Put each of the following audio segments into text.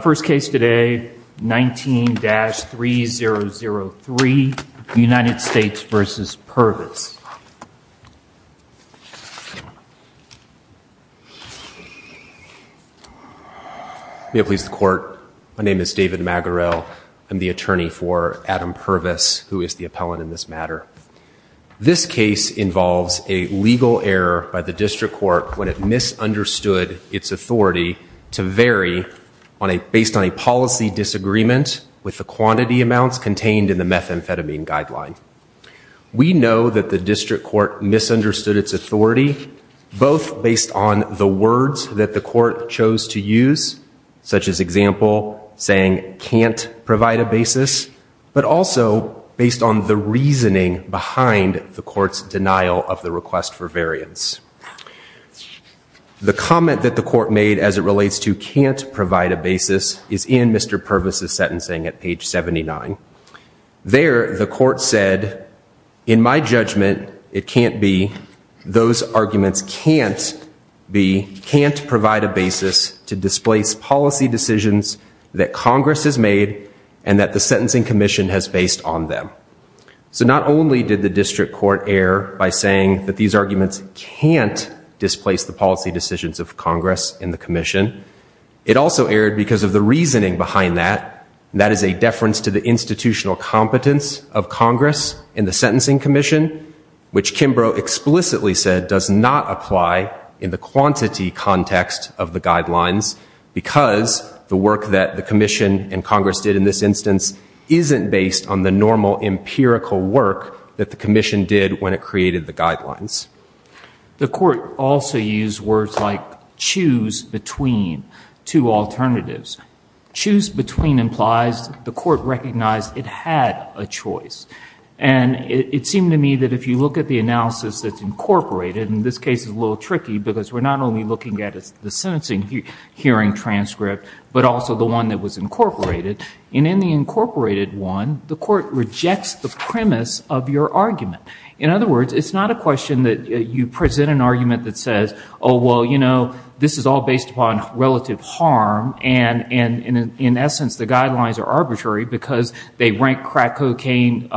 First case today, 19-3003, United States v. Purvis. May it please the Court, my name is David Maguirel, I'm the attorney for Adam Purvis, who is the appellant in this matter. This case involves a legal error by the District Court when it misunderstood its authority to vary based on a policy disagreement with the quantity amounts contained in the methamphetamine guideline. We know that the District Court misunderstood its authority, both based on the words that the Court chose to use, such as example, saying, can't provide a basis, but also based on the reasoning behind the Court's denial of the request for variance. The comment that the Court made as it relates to can't provide a basis is in Mr. Purvis' sentencing at page 79. There, the Court said, in my judgment, it can't be, those arguments can't be, can't provide a basis to displace policy decisions that Congress has made and that the Sentencing Commission has based on them. So not only did the District Court err by saying that these arguments can't displace the policy decisions of Congress and the Commission, it also erred because of the reasoning behind that. That is a deference to the institutional competence of Congress and the Sentencing Commission, which Kimbrough explicitly said does not apply in the quantity context of the guidelines because the work that the Commission and Congress did in this instance isn't based on the normal empirical work that the Commission did when it created the guidelines. The Court also used words like choose between two alternatives. Choose between implies the Court recognized it had a choice. And it seemed to me that if you look at the analysis that's incorporated, and this case is a little tricky because we're not only looking at the sentencing hearing transcript, but also the one that was incorporated. And in the incorporated one, the Court rejects the premise of your argument. In other words, it's not a question that you present an argument that says, oh, well, you know, this is all based upon relative harm. And in essence, the guidelines are arbitrary because they rank crack cocaine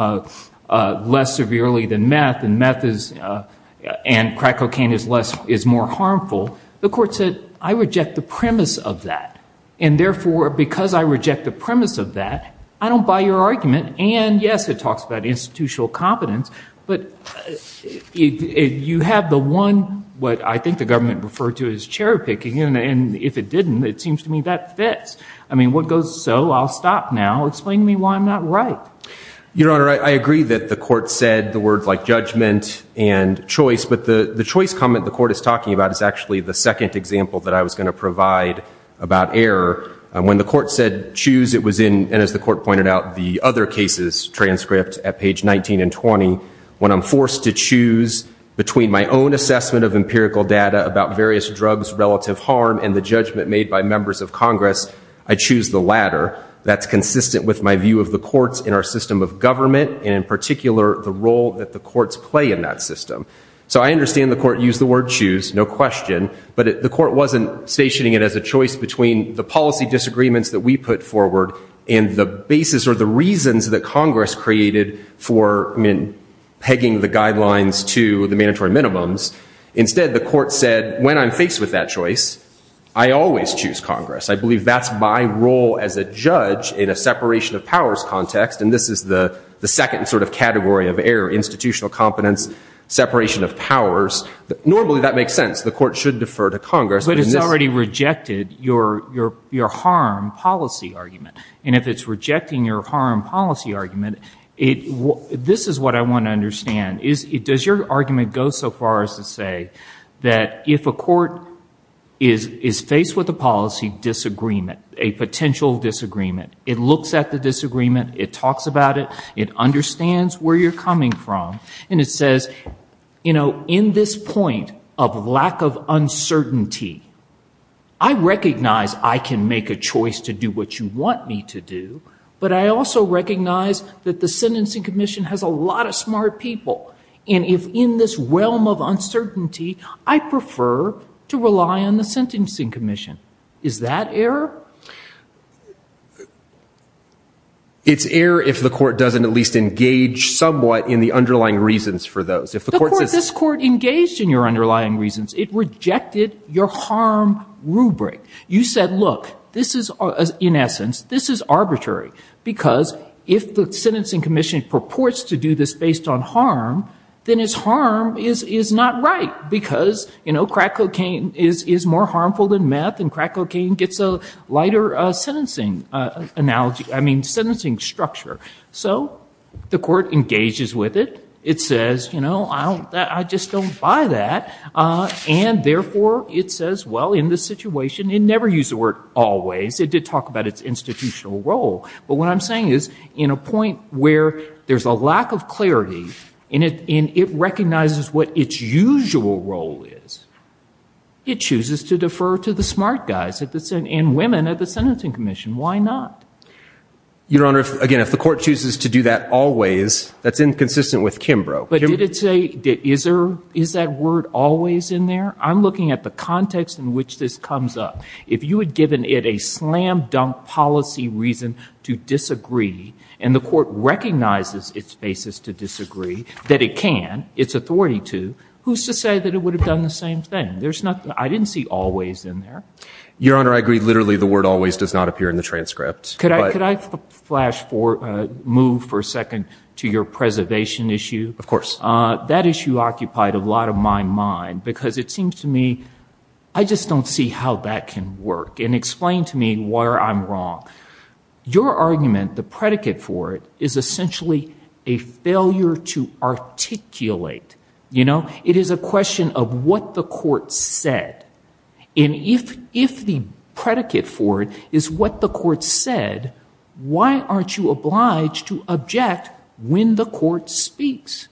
less severely than meth, and crack cocaine is more harmful. The Court said, I reject the premise of that. And therefore, because I reject the premise of that, I don't buy your argument. And yes, it talks about institutional competence. But you have the one what I think the government referred to as chair picking. And if it didn't, it seems to me that fits. I mean, what goes so? I'll stop now. Explain to me why I'm not right. Your Honor, I agree that the Court said the words like judgment and choice. But the choice comment the Court is talking about is actually the second example that I was going to provide about error. When the Court said choose, it was in, and as the Court pointed out, the other cases transcript at page 19 and 20. When I'm forced to choose between my own assessment of empirical data about various drugs' relative harm and the judgment made by members of Congress, I choose the latter. That's consistent with my view of the courts in our system of government, and in particular, the role that the courts play in that system. So I understand the Court used the word choose, no question. But the Court wasn't stationing it as a choice between the policy disagreements that we put forward and the basis or the reasons that Congress created for pegging the guidelines to the mandatory minimums. Instead, the Court said when I'm faced with that choice, I always choose Congress. I believe that's my role as a judge in a separation of powers context. And this is the second sort of category of error, institutional competence, separation of powers. Normally, that makes sense. The Court should defer to Congress. But it's already rejected your harm policy argument. And if it's rejecting your harm policy argument, this is what I want to understand. Does your argument go so far as to say that if a court is faced with a policy disagreement, a potential disagreement, it looks at the disagreement, it talks about it, it understands where you're coming from, and it says, you know, in this point of lack of uncertainty, I recognize I can make a choice to do what you want me to do. But I also recognize that the Sentencing Commission has a lot of smart people. And if in this realm of uncertainty, I prefer to rely on the Sentencing Commission. Is that error? It's error if the Court doesn't at least engage somewhat in the underlying reasons for those. If the Court says- The Court, this Court engaged in your underlying reasons. It rejected your harm rubric. You said, look, this is, in essence, this is arbitrary. Because if the Sentencing Commission purports to do this based on harm, then its harm is not right. Not because, you know, crack cocaine is more harmful than meth, and crack cocaine gets a lighter sentencing analogy, I mean, sentencing structure. So the Court engages with it. It says, you know, I don't, I just don't buy that. And therefore, it says, well, in this situation, it never used the word always. It did talk about its institutional role. But what I'm saying is, in a point where there's a lack of clarity, and it recognizes what its usual role is, it chooses to defer to the smart guys and women at the Sentencing Commission. Why not? Your Honor, again, if the Court chooses to do that always, that's inconsistent with Kimbrough. But did it say, is that word always in there? I'm looking at the context in which this comes up. If you had given it a slam-dunk policy reason to disagree, and the Court recognizes its basis to disagree, that it can, its authority to, who's to say that it would have done the same thing? There's nothing. I didn't see always in there. Your Honor, I agree. Literally, the word always does not appear in the transcript. Could I flash for, move for a second to your preservation issue? Of course. That issue occupied a lot of my mind, because it seems to me, I just don't see how that can work. And explain to me why I'm wrong. Your argument, the predicate for it, is essentially a failure to articulate. You know? It is a question of what the Court said. And if the predicate for it is what the Court said, why aren't you obliged to object when the Court speaks?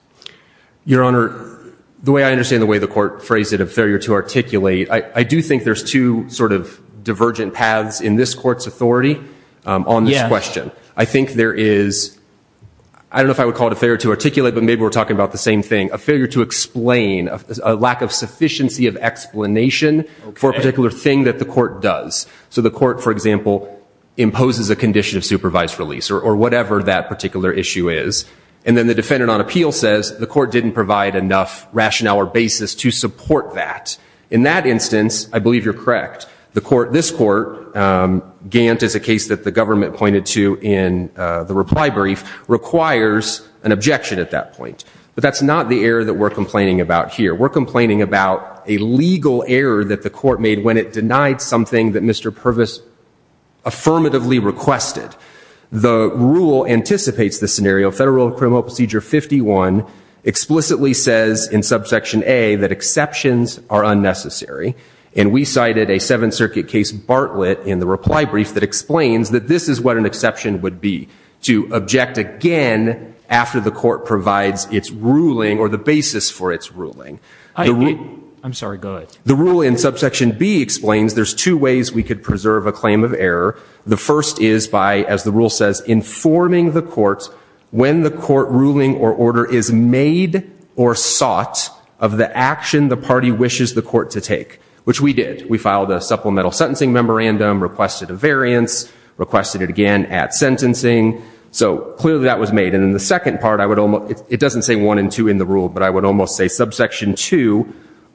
Your Honor, the way I understand the way the Court phrased it, a failure to articulate, I do think there's two sort of divergent paths in this Court's authority on this question. I think there is, I don't know if I would call it a failure to articulate, but maybe we're talking about the same thing. A failure to explain, a lack of sufficiency of explanation for a particular thing that the Court does. So the Court, for example, imposes a condition of supervised release, or whatever that particular issue is. And then the defendant on appeal says the Court didn't provide enough rationale or basis to support that. In that instance, I believe you're correct. This Court, Gant is a case that the government pointed to in the reply brief, requires an objection at that point. But that's not the error that we're complaining about here. We're complaining about a legal error that the Court made when it denied something that Mr. Purvis affirmatively requested. The rule anticipates the scenario. Federal Criminal Procedure 51 explicitly says in subsection A that exceptions are unnecessary. And we cited a Seventh Circuit case, Bartlett, in the reply brief that explains that this is what an exception would be. To object again after the Court provides its ruling, or the basis for its ruling. I'm sorry, go ahead. The rule in subsection B explains there's two ways we could preserve a claim of error. The first is by, as the rule says, informing the Court when the Court ruling or order is made or sought of the action the party wishes the Court to take. Which we did. We filed a supplemental sentencing memorandum, requested a variance, requested it again at sentencing. So clearly that was made. And then the second part, it doesn't say one and two in the rule, but I would almost say subsection two,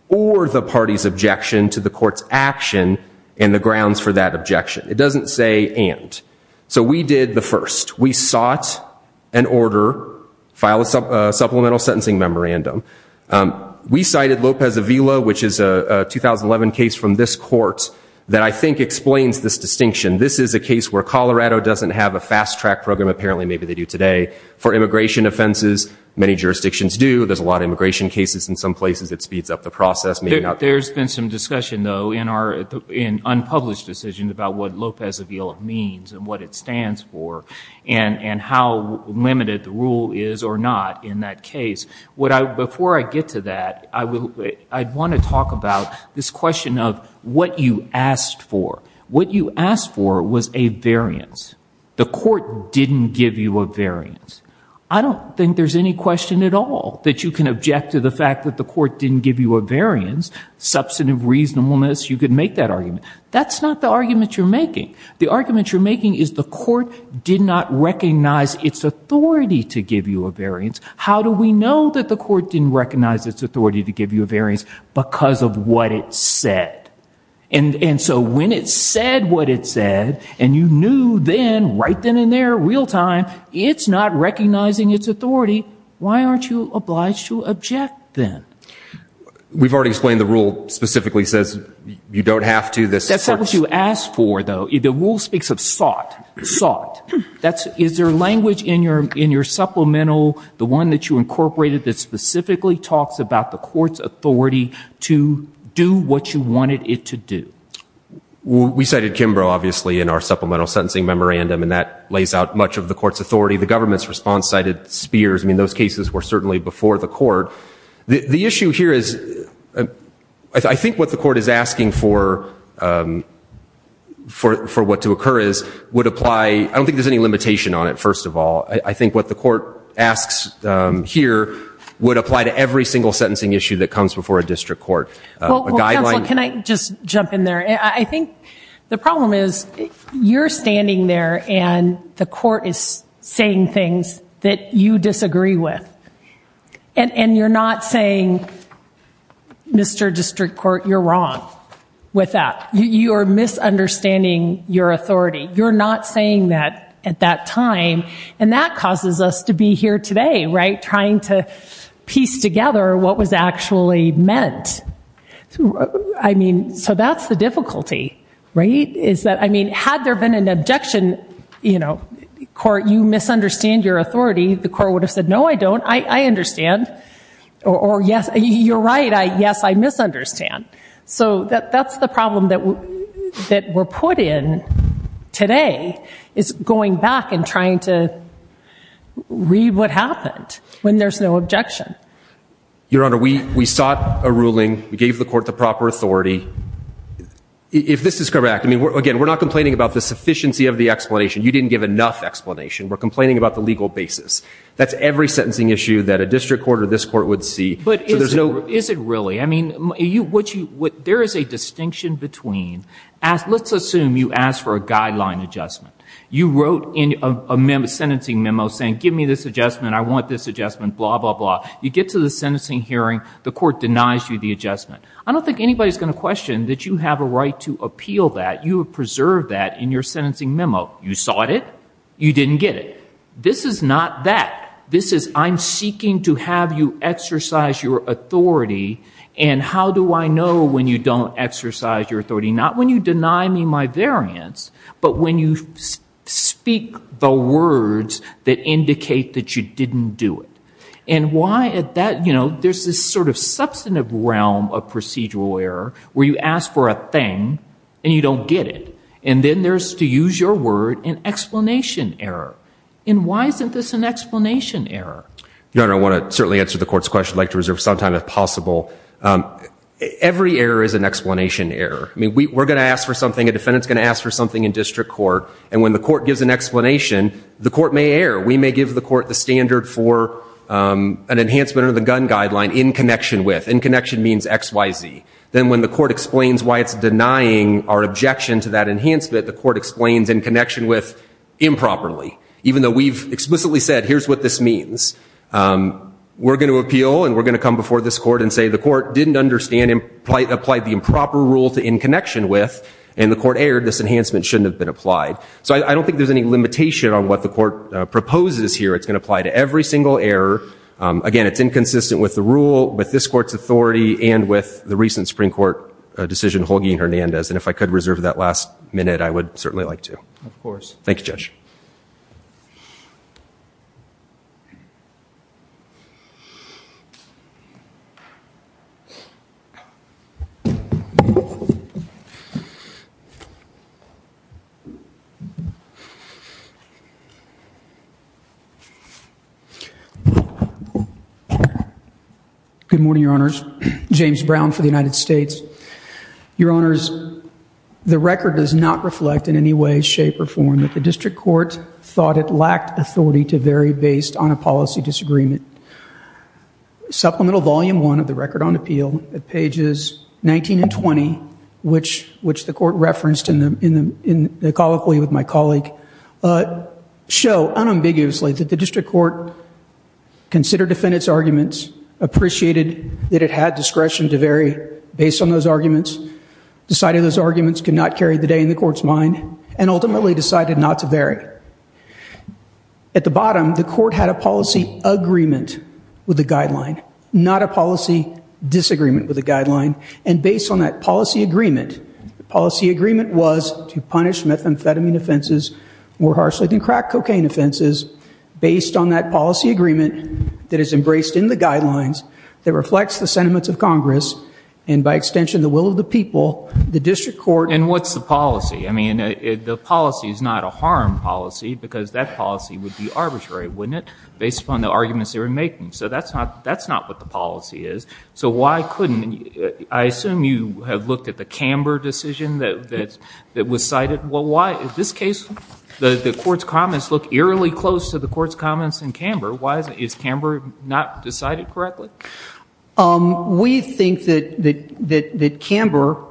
or the party's objection to the Court's action and the grounds for that objection. It doesn't say and. So we did the first. We sought an order, filed a supplemental sentencing memorandum. We cited Lopez-Avila, which is a 2011 case from this Court, that I think explains this distinction. This is a case where Colorado doesn't have a fast track program, apparently maybe they do today, for immigration offenses. Many jurisdictions do. There's a lot of immigration cases in some places. It speeds up the process. There's been some discussion, though, in unpublished decisions about what Lopez-Avila means and what it stands for. And how limited the rule is or not in that case. Before I get to that, I want to talk about this question of what you asked for. What you asked for was a variance. The Court didn't give you a variance. I don't think there's any question at all that you can object to the fact that the Court didn't give you a variance. Substantive reasonableness, you could make that argument. That's not the argument you're making. The argument you're making is the Court did not recognize its authority to give you a variance. How do we know that the Court didn't recognize its authority to give you a variance? Because of what it said. And so when it said what it said, and you knew then, right then and there, real time, it's not recognizing its authority, why aren't you obliged to object then? We've already explained the rule specifically says you don't have to. That's not what you asked for, though. The rule speaks of sought, sought. Is there language in your supplemental, the one that you incorporated, that specifically talks about the Court's authority to do what you wanted it to do? We cited Kimbrough, obviously, in our supplemental sentencing memorandum, and that lays out much of the Court's authority. The government's response cited Spears. I mean, those cases were certainly before the Court. The issue here is I think what the Court is asking for what to occur is would apply, I don't think there's any limitation on it, first of all. I think what the Court asks here would apply to every single sentencing issue that comes before a district court. Well, counsel, can I just jump in there? I think the problem is you're standing there, and the Court is saying things that you disagree with. And you're not saying, Mr. District Court, you're wrong with that. You are misunderstanding your authority. You're not saying that at that time, and that causes us to be here today, right, trying to piece together what was actually meant. I mean, so that's the difficulty, right, is that, I mean, had there been an objection, you know, the Court would have said, no, I don't, I understand, or yes, you're right, yes, I misunderstand. So that's the problem that we're put in today is going back and trying to read what happened when there's no objection. Your Honor, we sought a ruling. We gave the Court the proper authority. If this is correct, I mean, again, we're not complaining about the sufficiency of the explanation. You didn't give enough explanation. We're complaining about the legal basis. That's every sentencing issue that a district court or this Court would see. But is it really? I mean, there is a distinction between, let's assume you asked for a guideline adjustment. You wrote a sentencing memo saying, give me this adjustment, I want this adjustment, blah, blah, blah. You get to the sentencing hearing. The Court denies you the adjustment. I don't think anybody's going to question that you have a right to appeal that. You have preserved that in your sentencing memo. You sought it. You didn't get it. This is not that. This is I'm seeking to have you exercise your authority, and how do I know when you don't exercise your authority? Not when you deny me my variance, but when you speak the words that indicate that you didn't do it. And why is that? You know, there's this sort of substantive realm of procedural error where you ask for a thing and you don't get it. And then there's, to use your word, an explanation error. And why isn't this an explanation error? Your Honor, I want to certainly answer the Court's question. I'd like to reserve some time if possible. Every error is an explanation error. I mean, we're going to ask for something, a defendant's going to ask for something in district court, and when the Court gives an explanation, the Court may err. We may give the Court the standard for an enhancement of the gun guideline in connection with. In connection means X, Y, Z. Then when the Court explains why it's denying our objection to that enhancement, the Court explains in connection with improperly. Even though we've explicitly said here's what this means. We're going to appeal and we're going to come before this Court and say the Court didn't understand and applied the improper rule to in connection with, and the Court erred. This enhancement shouldn't have been applied. So I don't think there's any limitation on what the Court proposes here. It's going to apply to every single error. Again, it's inconsistent with the rule, with this Court's authority, and with the recent Supreme Court decision, Holguin-Hernandez. And if I could reserve that last minute, I would certainly like to. Of course. Thank you, Judge. Good morning, Your Honors. James Brown for the United States. Your Honors, the record does not reflect in any way, shape, or form that the District Court thought it lacked authority to vary based on a policy disagreement. Supplemental Volume I of the Record on Appeal at pages 19 and 20, which the Court referenced in the colloquy with my colleague, show unambiguously that the District Court considered defendants' arguments, appreciated that it had discretion to vary based on those arguments, decided those arguments could not carry the day in the Court's mind, and ultimately decided not to vary. At the bottom, the Court had a policy agreement with the guideline, not a policy disagreement with the guideline. And based on that policy agreement, the policy agreement was to punish methamphetamine offenses more harshly than crack cocaine offenses, based on that policy agreement that is embraced in the guidelines, that reflects the sentiments of Congress, and by extension, the will of the people, the District Court... And what's the policy? I mean, the policy is not a harm policy, because that policy would be arbitrary, wouldn't it, based upon the arguments they were making. So that's not what the policy is. So why couldn't... I assume you have looked at the Camber decision that was cited. Well, why, in this case, the Court's comments look eerily close to the Court's comments in Camber. Why is Camber not decided correctly? We think that Camber...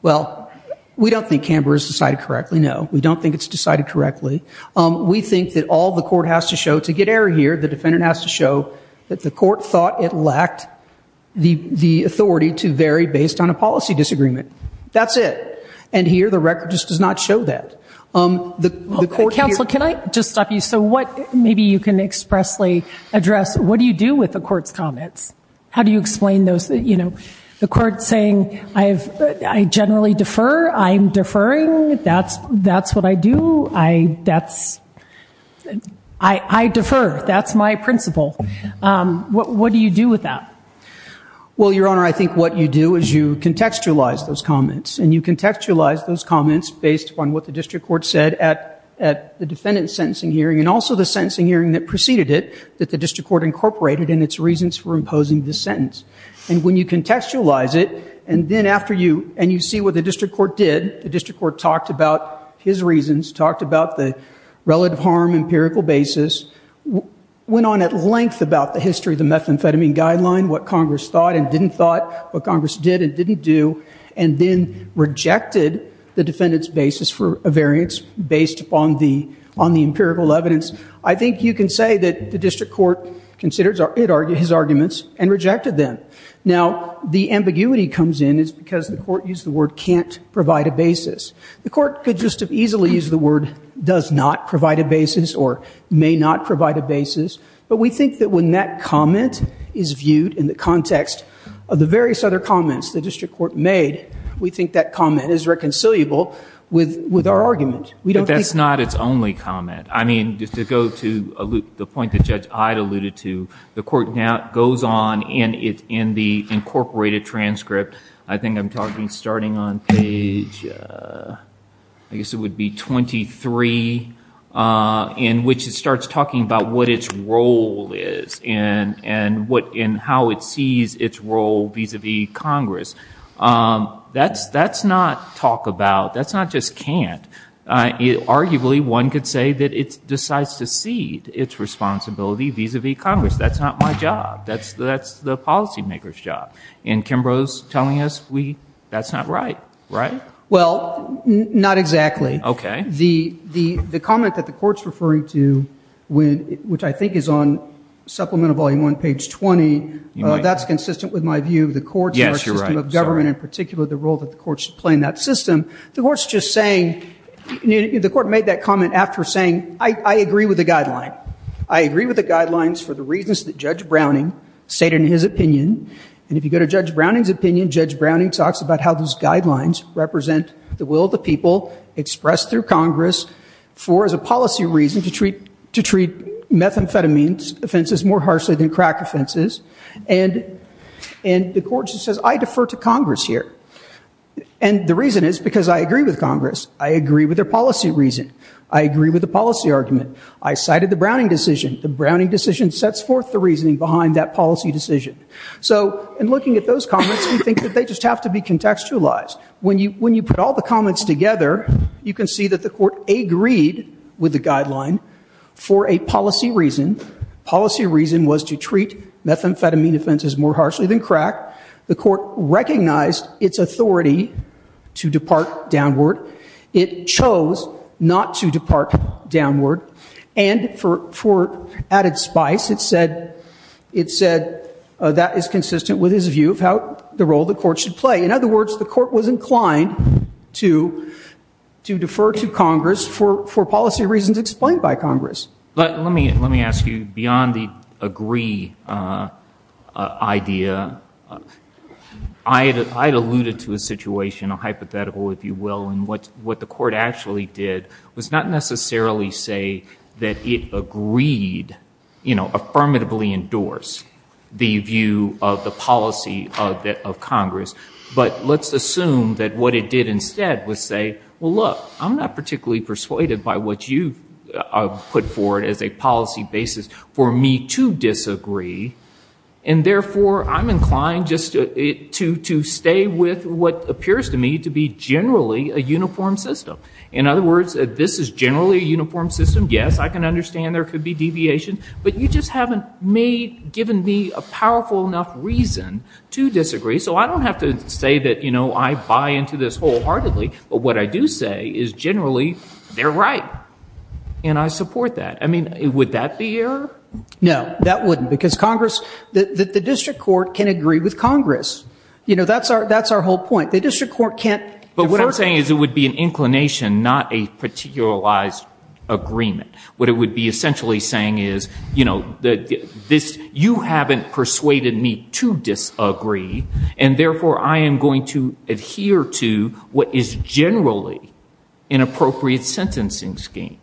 Well, we don't think Camber is decided correctly, no. We don't think it's decided correctly. We think that all the Court has to show, to get error here, the defendant has to show that the Court thought it lacked the authority to vary based on a policy disagreement. That's it. And here, the record just does not show that. Counsel, can I just stop you? So maybe you can expressly address, what do you do with the Court's comments? How do you explain those? The Court's saying, I generally defer. I'm deferring. That's what I do. I defer. That's my principle. What do you do with that? Well, Your Honor, I think what you do is you contextualize those comments, and you contextualize those comments based upon what the district court said at the defendant's sentencing hearing and also the sentencing hearing that preceded it, that the district court incorporated in its reasons for imposing this sentence. And when you contextualize it, and you see what the district court did, the district court talked about his reasons, talked about the relative harm empirical basis, went on at length about the history of the methamphetamine guideline, what Congress thought and didn't thought, what Congress did and didn't do, and then rejected the defendant's basis for a variance based upon the empirical evidence, I think you can say that the district court considered his arguments and rejected them. Now, the ambiguity comes in because the court used the word can't provide a basis. The court could just as easily use the word does not provide a basis or may not provide a basis, but we think that when that comment is viewed in the context of the various other comments the district court made, we think that comment is reconciliable with our argument. But that's not its only comment. I mean, just to go to the point that Judge Hyde alluded to, the court now goes on in the incorporated transcript, I think I'm talking starting on page, I guess it would be 23, in which it starts talking about what its role is and how it sees its role vis-a-vis Congress. That's not talk about, that's not just can't. Arguably, one could say that it decides to cede its responsibility vis-a-vis Congress. That's not my job. That's the policymaker's job. And Kimbrough's telling us that's not right, right? Well, not exactly. Okay. The comment that the court's referring to, which I think is on supplemental volume 1, page 20, that's consistent with my view of the court's system of government, in particular the role that the court should play in that system. The court's just saying, the court made that comment after saying, I agree with the guideline. I agree with the guidelines for the reasons that Judge Browning stated in his opinion. And if you go to Judge Browning's opinion, Judge Browning talks about how those guidelines represent the will of the people expressed through Congress for as a policy reason to treat methamphetamines offenses more harshly than crack offenses. And the court just says, I defer to Congress here. And the reason is because I agree with Congress. I agree with their policy reason. I agree with the policy argument. I cited the Browning decision. The Browning decision sets forth the reasoning behind that policy decision. So in looking at those comments, we think that they just have to be contextualized. When you put all the comments together, you can see that the court agreed with the guideline for a policy reason. Policy reason was to treat methamphetamine offenses more harshly than crack. The court recognized its authority to depart downward. It chose not to depart downward. And for added spice, it said that is consistent with his view of how the role the court should play. In other words, the court was inclined to defer to Congress for policy reasons explained by Congress. Let me ask you, beyond the agree idea, I had alluded to a situation, a hypothetical, if you will, in what the court actually did was not necessarily say that it agreed, you know, affirmatively endorsed the view of the policy of Congress. But let's assume that what it did instead was say, well, look, I'm not particularly persuaded by what you put forward as a policy basis for me to disagree. And therefore, I'm inclined just to stay with what appears to me to be generally a uniform system. In other words, this is generally a uniform system. Yes, I can understand there could be deviation. But you just haven't given me a powerful enough reason to disagree. So I don't have to say that, you know, I buy into this wholeheartedly. But what I do say is generally they're right. And I support that. I mean, would that be error? No, that wouldn't. Because Congress, the district court can agree with Congress. You know, that's our whole point. The district court can't defer. But what I'm saying is it would be an inclination, not a particularized agreement. What it would be essentially saying is, you know, you haven't persuaded me to disagree. And therefore, I am going to adhere to what is generally an appropriate sentencing scheme.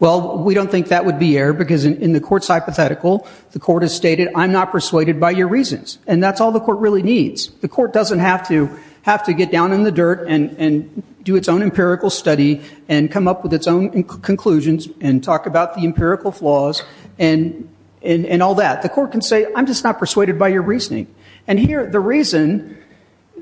Well, we don't think that would be error. Because in the court's hypothetical, the court has stated, I'm not persuaded by your reasons. And that's all the court really needs. The court doesn't have to get down in the dirt and do its own empirical study and come up with its own conclusions and talk about the empirical flaws and all that. The court can say, I'm just not persuaded by your reasoning. And here the reason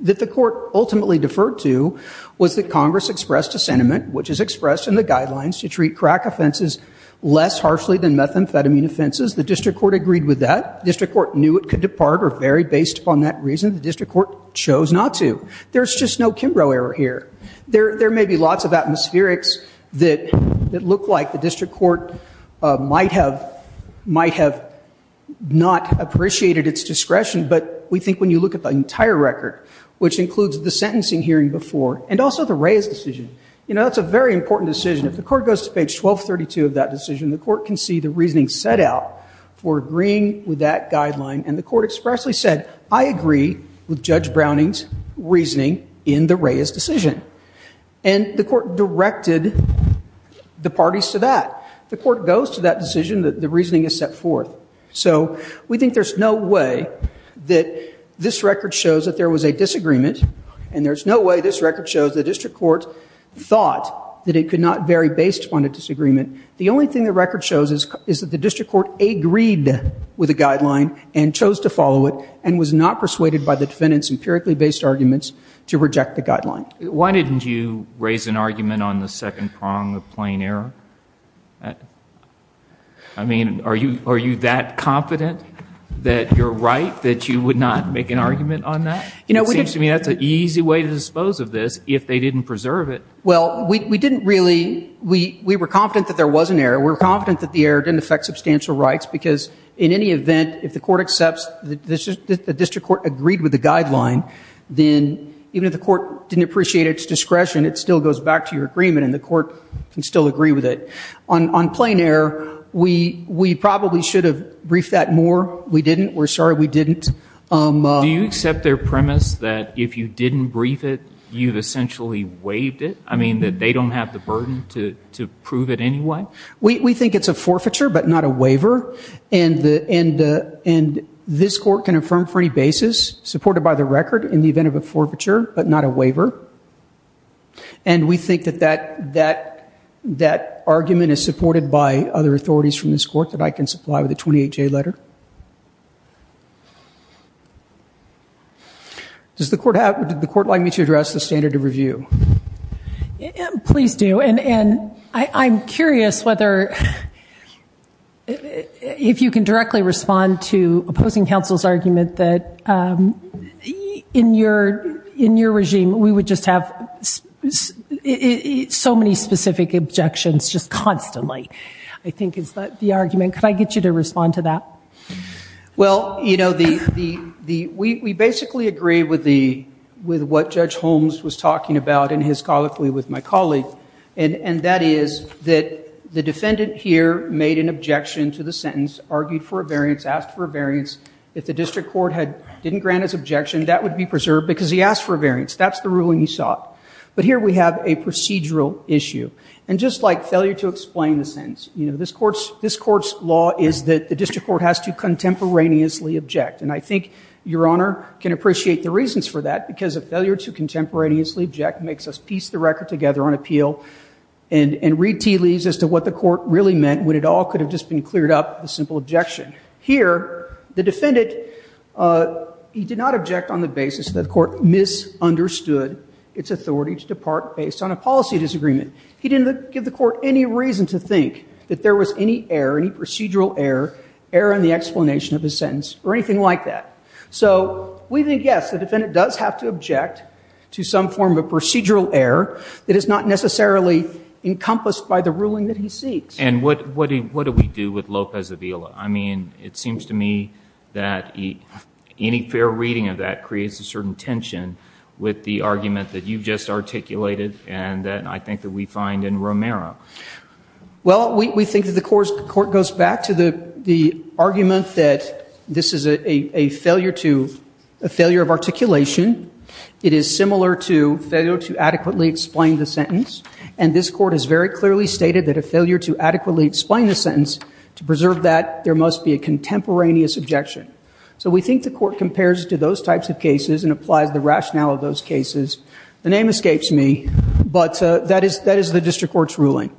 that the court ultimately deferred to was that Congress expressed a sentiment, which is expressed in the guidelines to treat crack offenses less harshly than methamphetamine offenses. The district court agreed with that. The district court knew it could depart or vary based upon that reason. The district court chose not to. There's just no Kimbrough error here. There may be lots of atmospherics that look like the district court might have not appreciated its discretion, but we think when you look at the entire record, which includes the sentencing hearing before and also the Reyes decision, that's a very important decision. If the court goes to page 1232 of that decision, the court can see the reasoning set out for agreeing with that guideline. And the court expressly said, I agree with Judge Browning's reasoning in the Reyes decision. And the court directed the parties to that. If the court goes to that decision, the reasoning is set forth. So we think there's no way that this record shows that there was a disagreement and there's no way this record shows the district court thought that it could not vary based upon a disagreement. The only thing the record shows is that the district court agreed with the guideline and chose to follow it and was not persuaded by the defendant's empirically based arguments to reject the guideline. Why didn't you raise an argument on the second prong of plain error? I mean, are you that confident that you're right, that you would not make an argument on that? It seems to me that's an easy way to dispose of this if they didn't preserve it. Well, we didn't really. We were confident that there was an error. We were confident that the error didn't affect substantial rights because in any event, if the court accepts that the district court agreed with the guideline, then even if the court didn't appreciate its discretion, it still goes back to your agreement and the court can still agree with it. On plain error, we probably should have briefed that more. We didn't. We're sorry we didn't. Do you accept their premise that if you didn't brief it, you've essentially waived it? I mean, that they don't have the burden to prove it anyway? We think it's a forfeiture but not a waiver, and this court can affirm for any basis supported by the record in the event of a forfeiture but not a waiver. And we think that that argument is supported by other authorities from this court that I can supply with a 28-J letter. Does the court like me to address the standard of review? Please do, and I'm curious if you can directly respond to opposing counsel's argument that in your regime we would just have so many specific objections just constantly, I think is the argument. Could I get you to respond to that? Well, you know, we basically agree with what Judge Holmes was talking about and his colloquy with my colleague, and that is that the defendant here made an objection to the sentence, argued for a variance, asked for a variance. If the district court didn't grant his objection, that would be preserved because he asked for a variance. That's the ruling he sought. But here we have a procedural issue. And just like failure to explain the sentence, this court's law is that the district court has to contemporaneously object, and I think Your Honor can appreciate the reasons for that because a failure to contemporaneously object makes us piece the record together on appeal and read tea leaves as to what the court really meant when it all could have just been cleared up with a simple objection. Here, the defendant, he did not object on the basis that the court misunderstood its authority to depart based on a policy disagreement. He didn't give the court any reason to think that there was any error, any procedural error, error in the explanation of his sentence or anything like that. So we think, yes, the defendant does have to object to some form of procedural error that is not necessarily encompassed by the ruling that he seeks. And what do we do with Lopez Avila? I mean, it seems to me that any fair reading of that creates a certain tension with the argument that you've just articulated and that I think that we find in Romero. Well, we think that the court goes back to the argument that this is a failure to, a failure of articulation. It is similar to failure to adequately explain the sentence, and this court has very clearly stated that a failure to adequately explain the sentence, to preserve that, there must be a contemporaneous objection. So we think the court compares it to those types of cases and applies the rationale of those cases. The name escapes me, but that is the district court's ruling.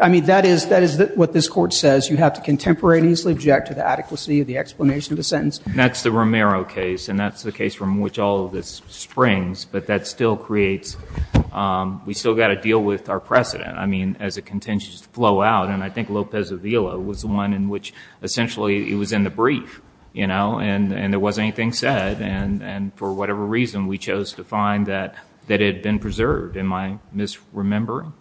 I mean, that is what this court says. You have to contemporaneously object to the adequacy of the explanation of the sentence. And that's the Romero case, and that's the case from which all of this springs, but that still creates, we've still got to deal with our precedent. I mean, as it continues to flow out, and I think Lopez Avila was the one in which essentially it was in the brief, you know, and there wasn't anything said, and for whatever reason we chose to find that it had been preserved. Am I misremembering?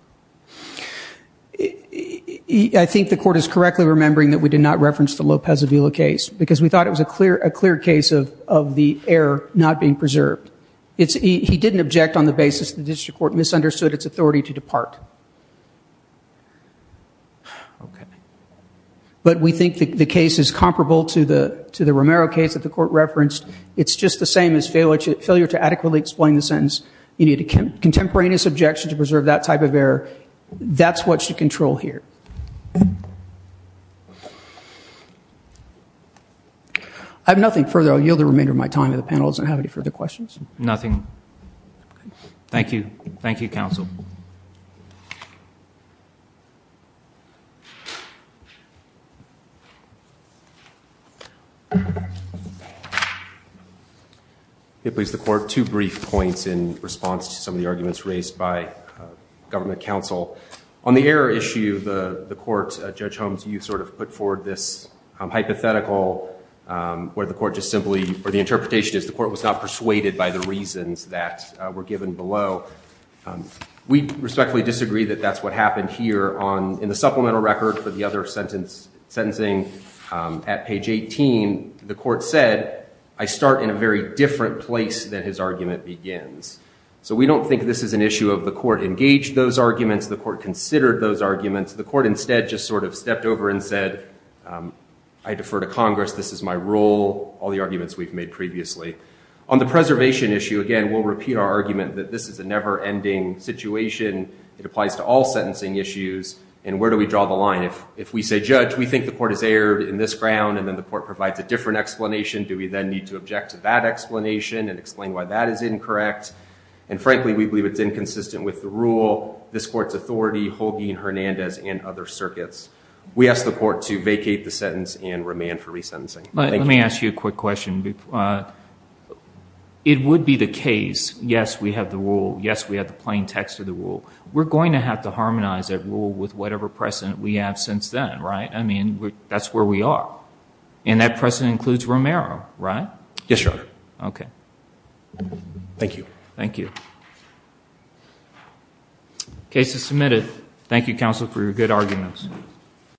I think the court is correctly remembering that we did not reference the Lopez Avila case because we thought it was a clear case of the error not being preserved. He didn't object on the basis the district court misunderstood its authority to depart. Okay. But we think the case is comparable to the Romero case that the court referenced. It's just the same as failure to adequately explain the sentence. You need a contemporaneous objection to preserve that type of error. That's what you control here. I have nothing further. I yield the remainder of my time to the panel. Does it have any further questions? Nothing. Thank you. Thank you, counsel. Please, the court, two brief points in response to some of the arguments raised by government counsel. On the error issue, the court, Judge Holmes, you sort of put forward this hypothetical where the interpretation is the court was not persuaded by the reasons that were given below. We respectfully disagree that that's what happened here. In the supplemental record for the other sentencing at page 18, the court said, I start in a very different place than his argument begins. So we don't think this is an issue of the court engaged those arguments, the court considered those arguments. The court instead just sort of stepped over and said, I defer to Congress. This is my rule, all the arguments we've made previously. On the preservation issue, again, we'll repeat our argument that this is a never-ending situation. It applies to all sentencing issues. And where do we draw the line? If we say, Judge, we think the court has erred in this ground, and then the court provides a different explanation, do we then need to object to that explanation and explain why that is incorrect? And frankly, we believe it's inconsistent with the rule. This court's authority, Holguin, Hernandez, and other circuits. We ask the court to vacate the sentence and remand for resentencing. Let me ask you a quick question. It would be the case, yes, we have the rule, yes, we have the plain text of the rule. We're going to have to harmonize that rule with whatever precedent we have since then, right? I mean, that's where we are. And that precedent includes Romero, right? Yes, Your Honor. Okay. Thank you. Thank you. Case is submitted. Thank you, counsel, for your good arguments.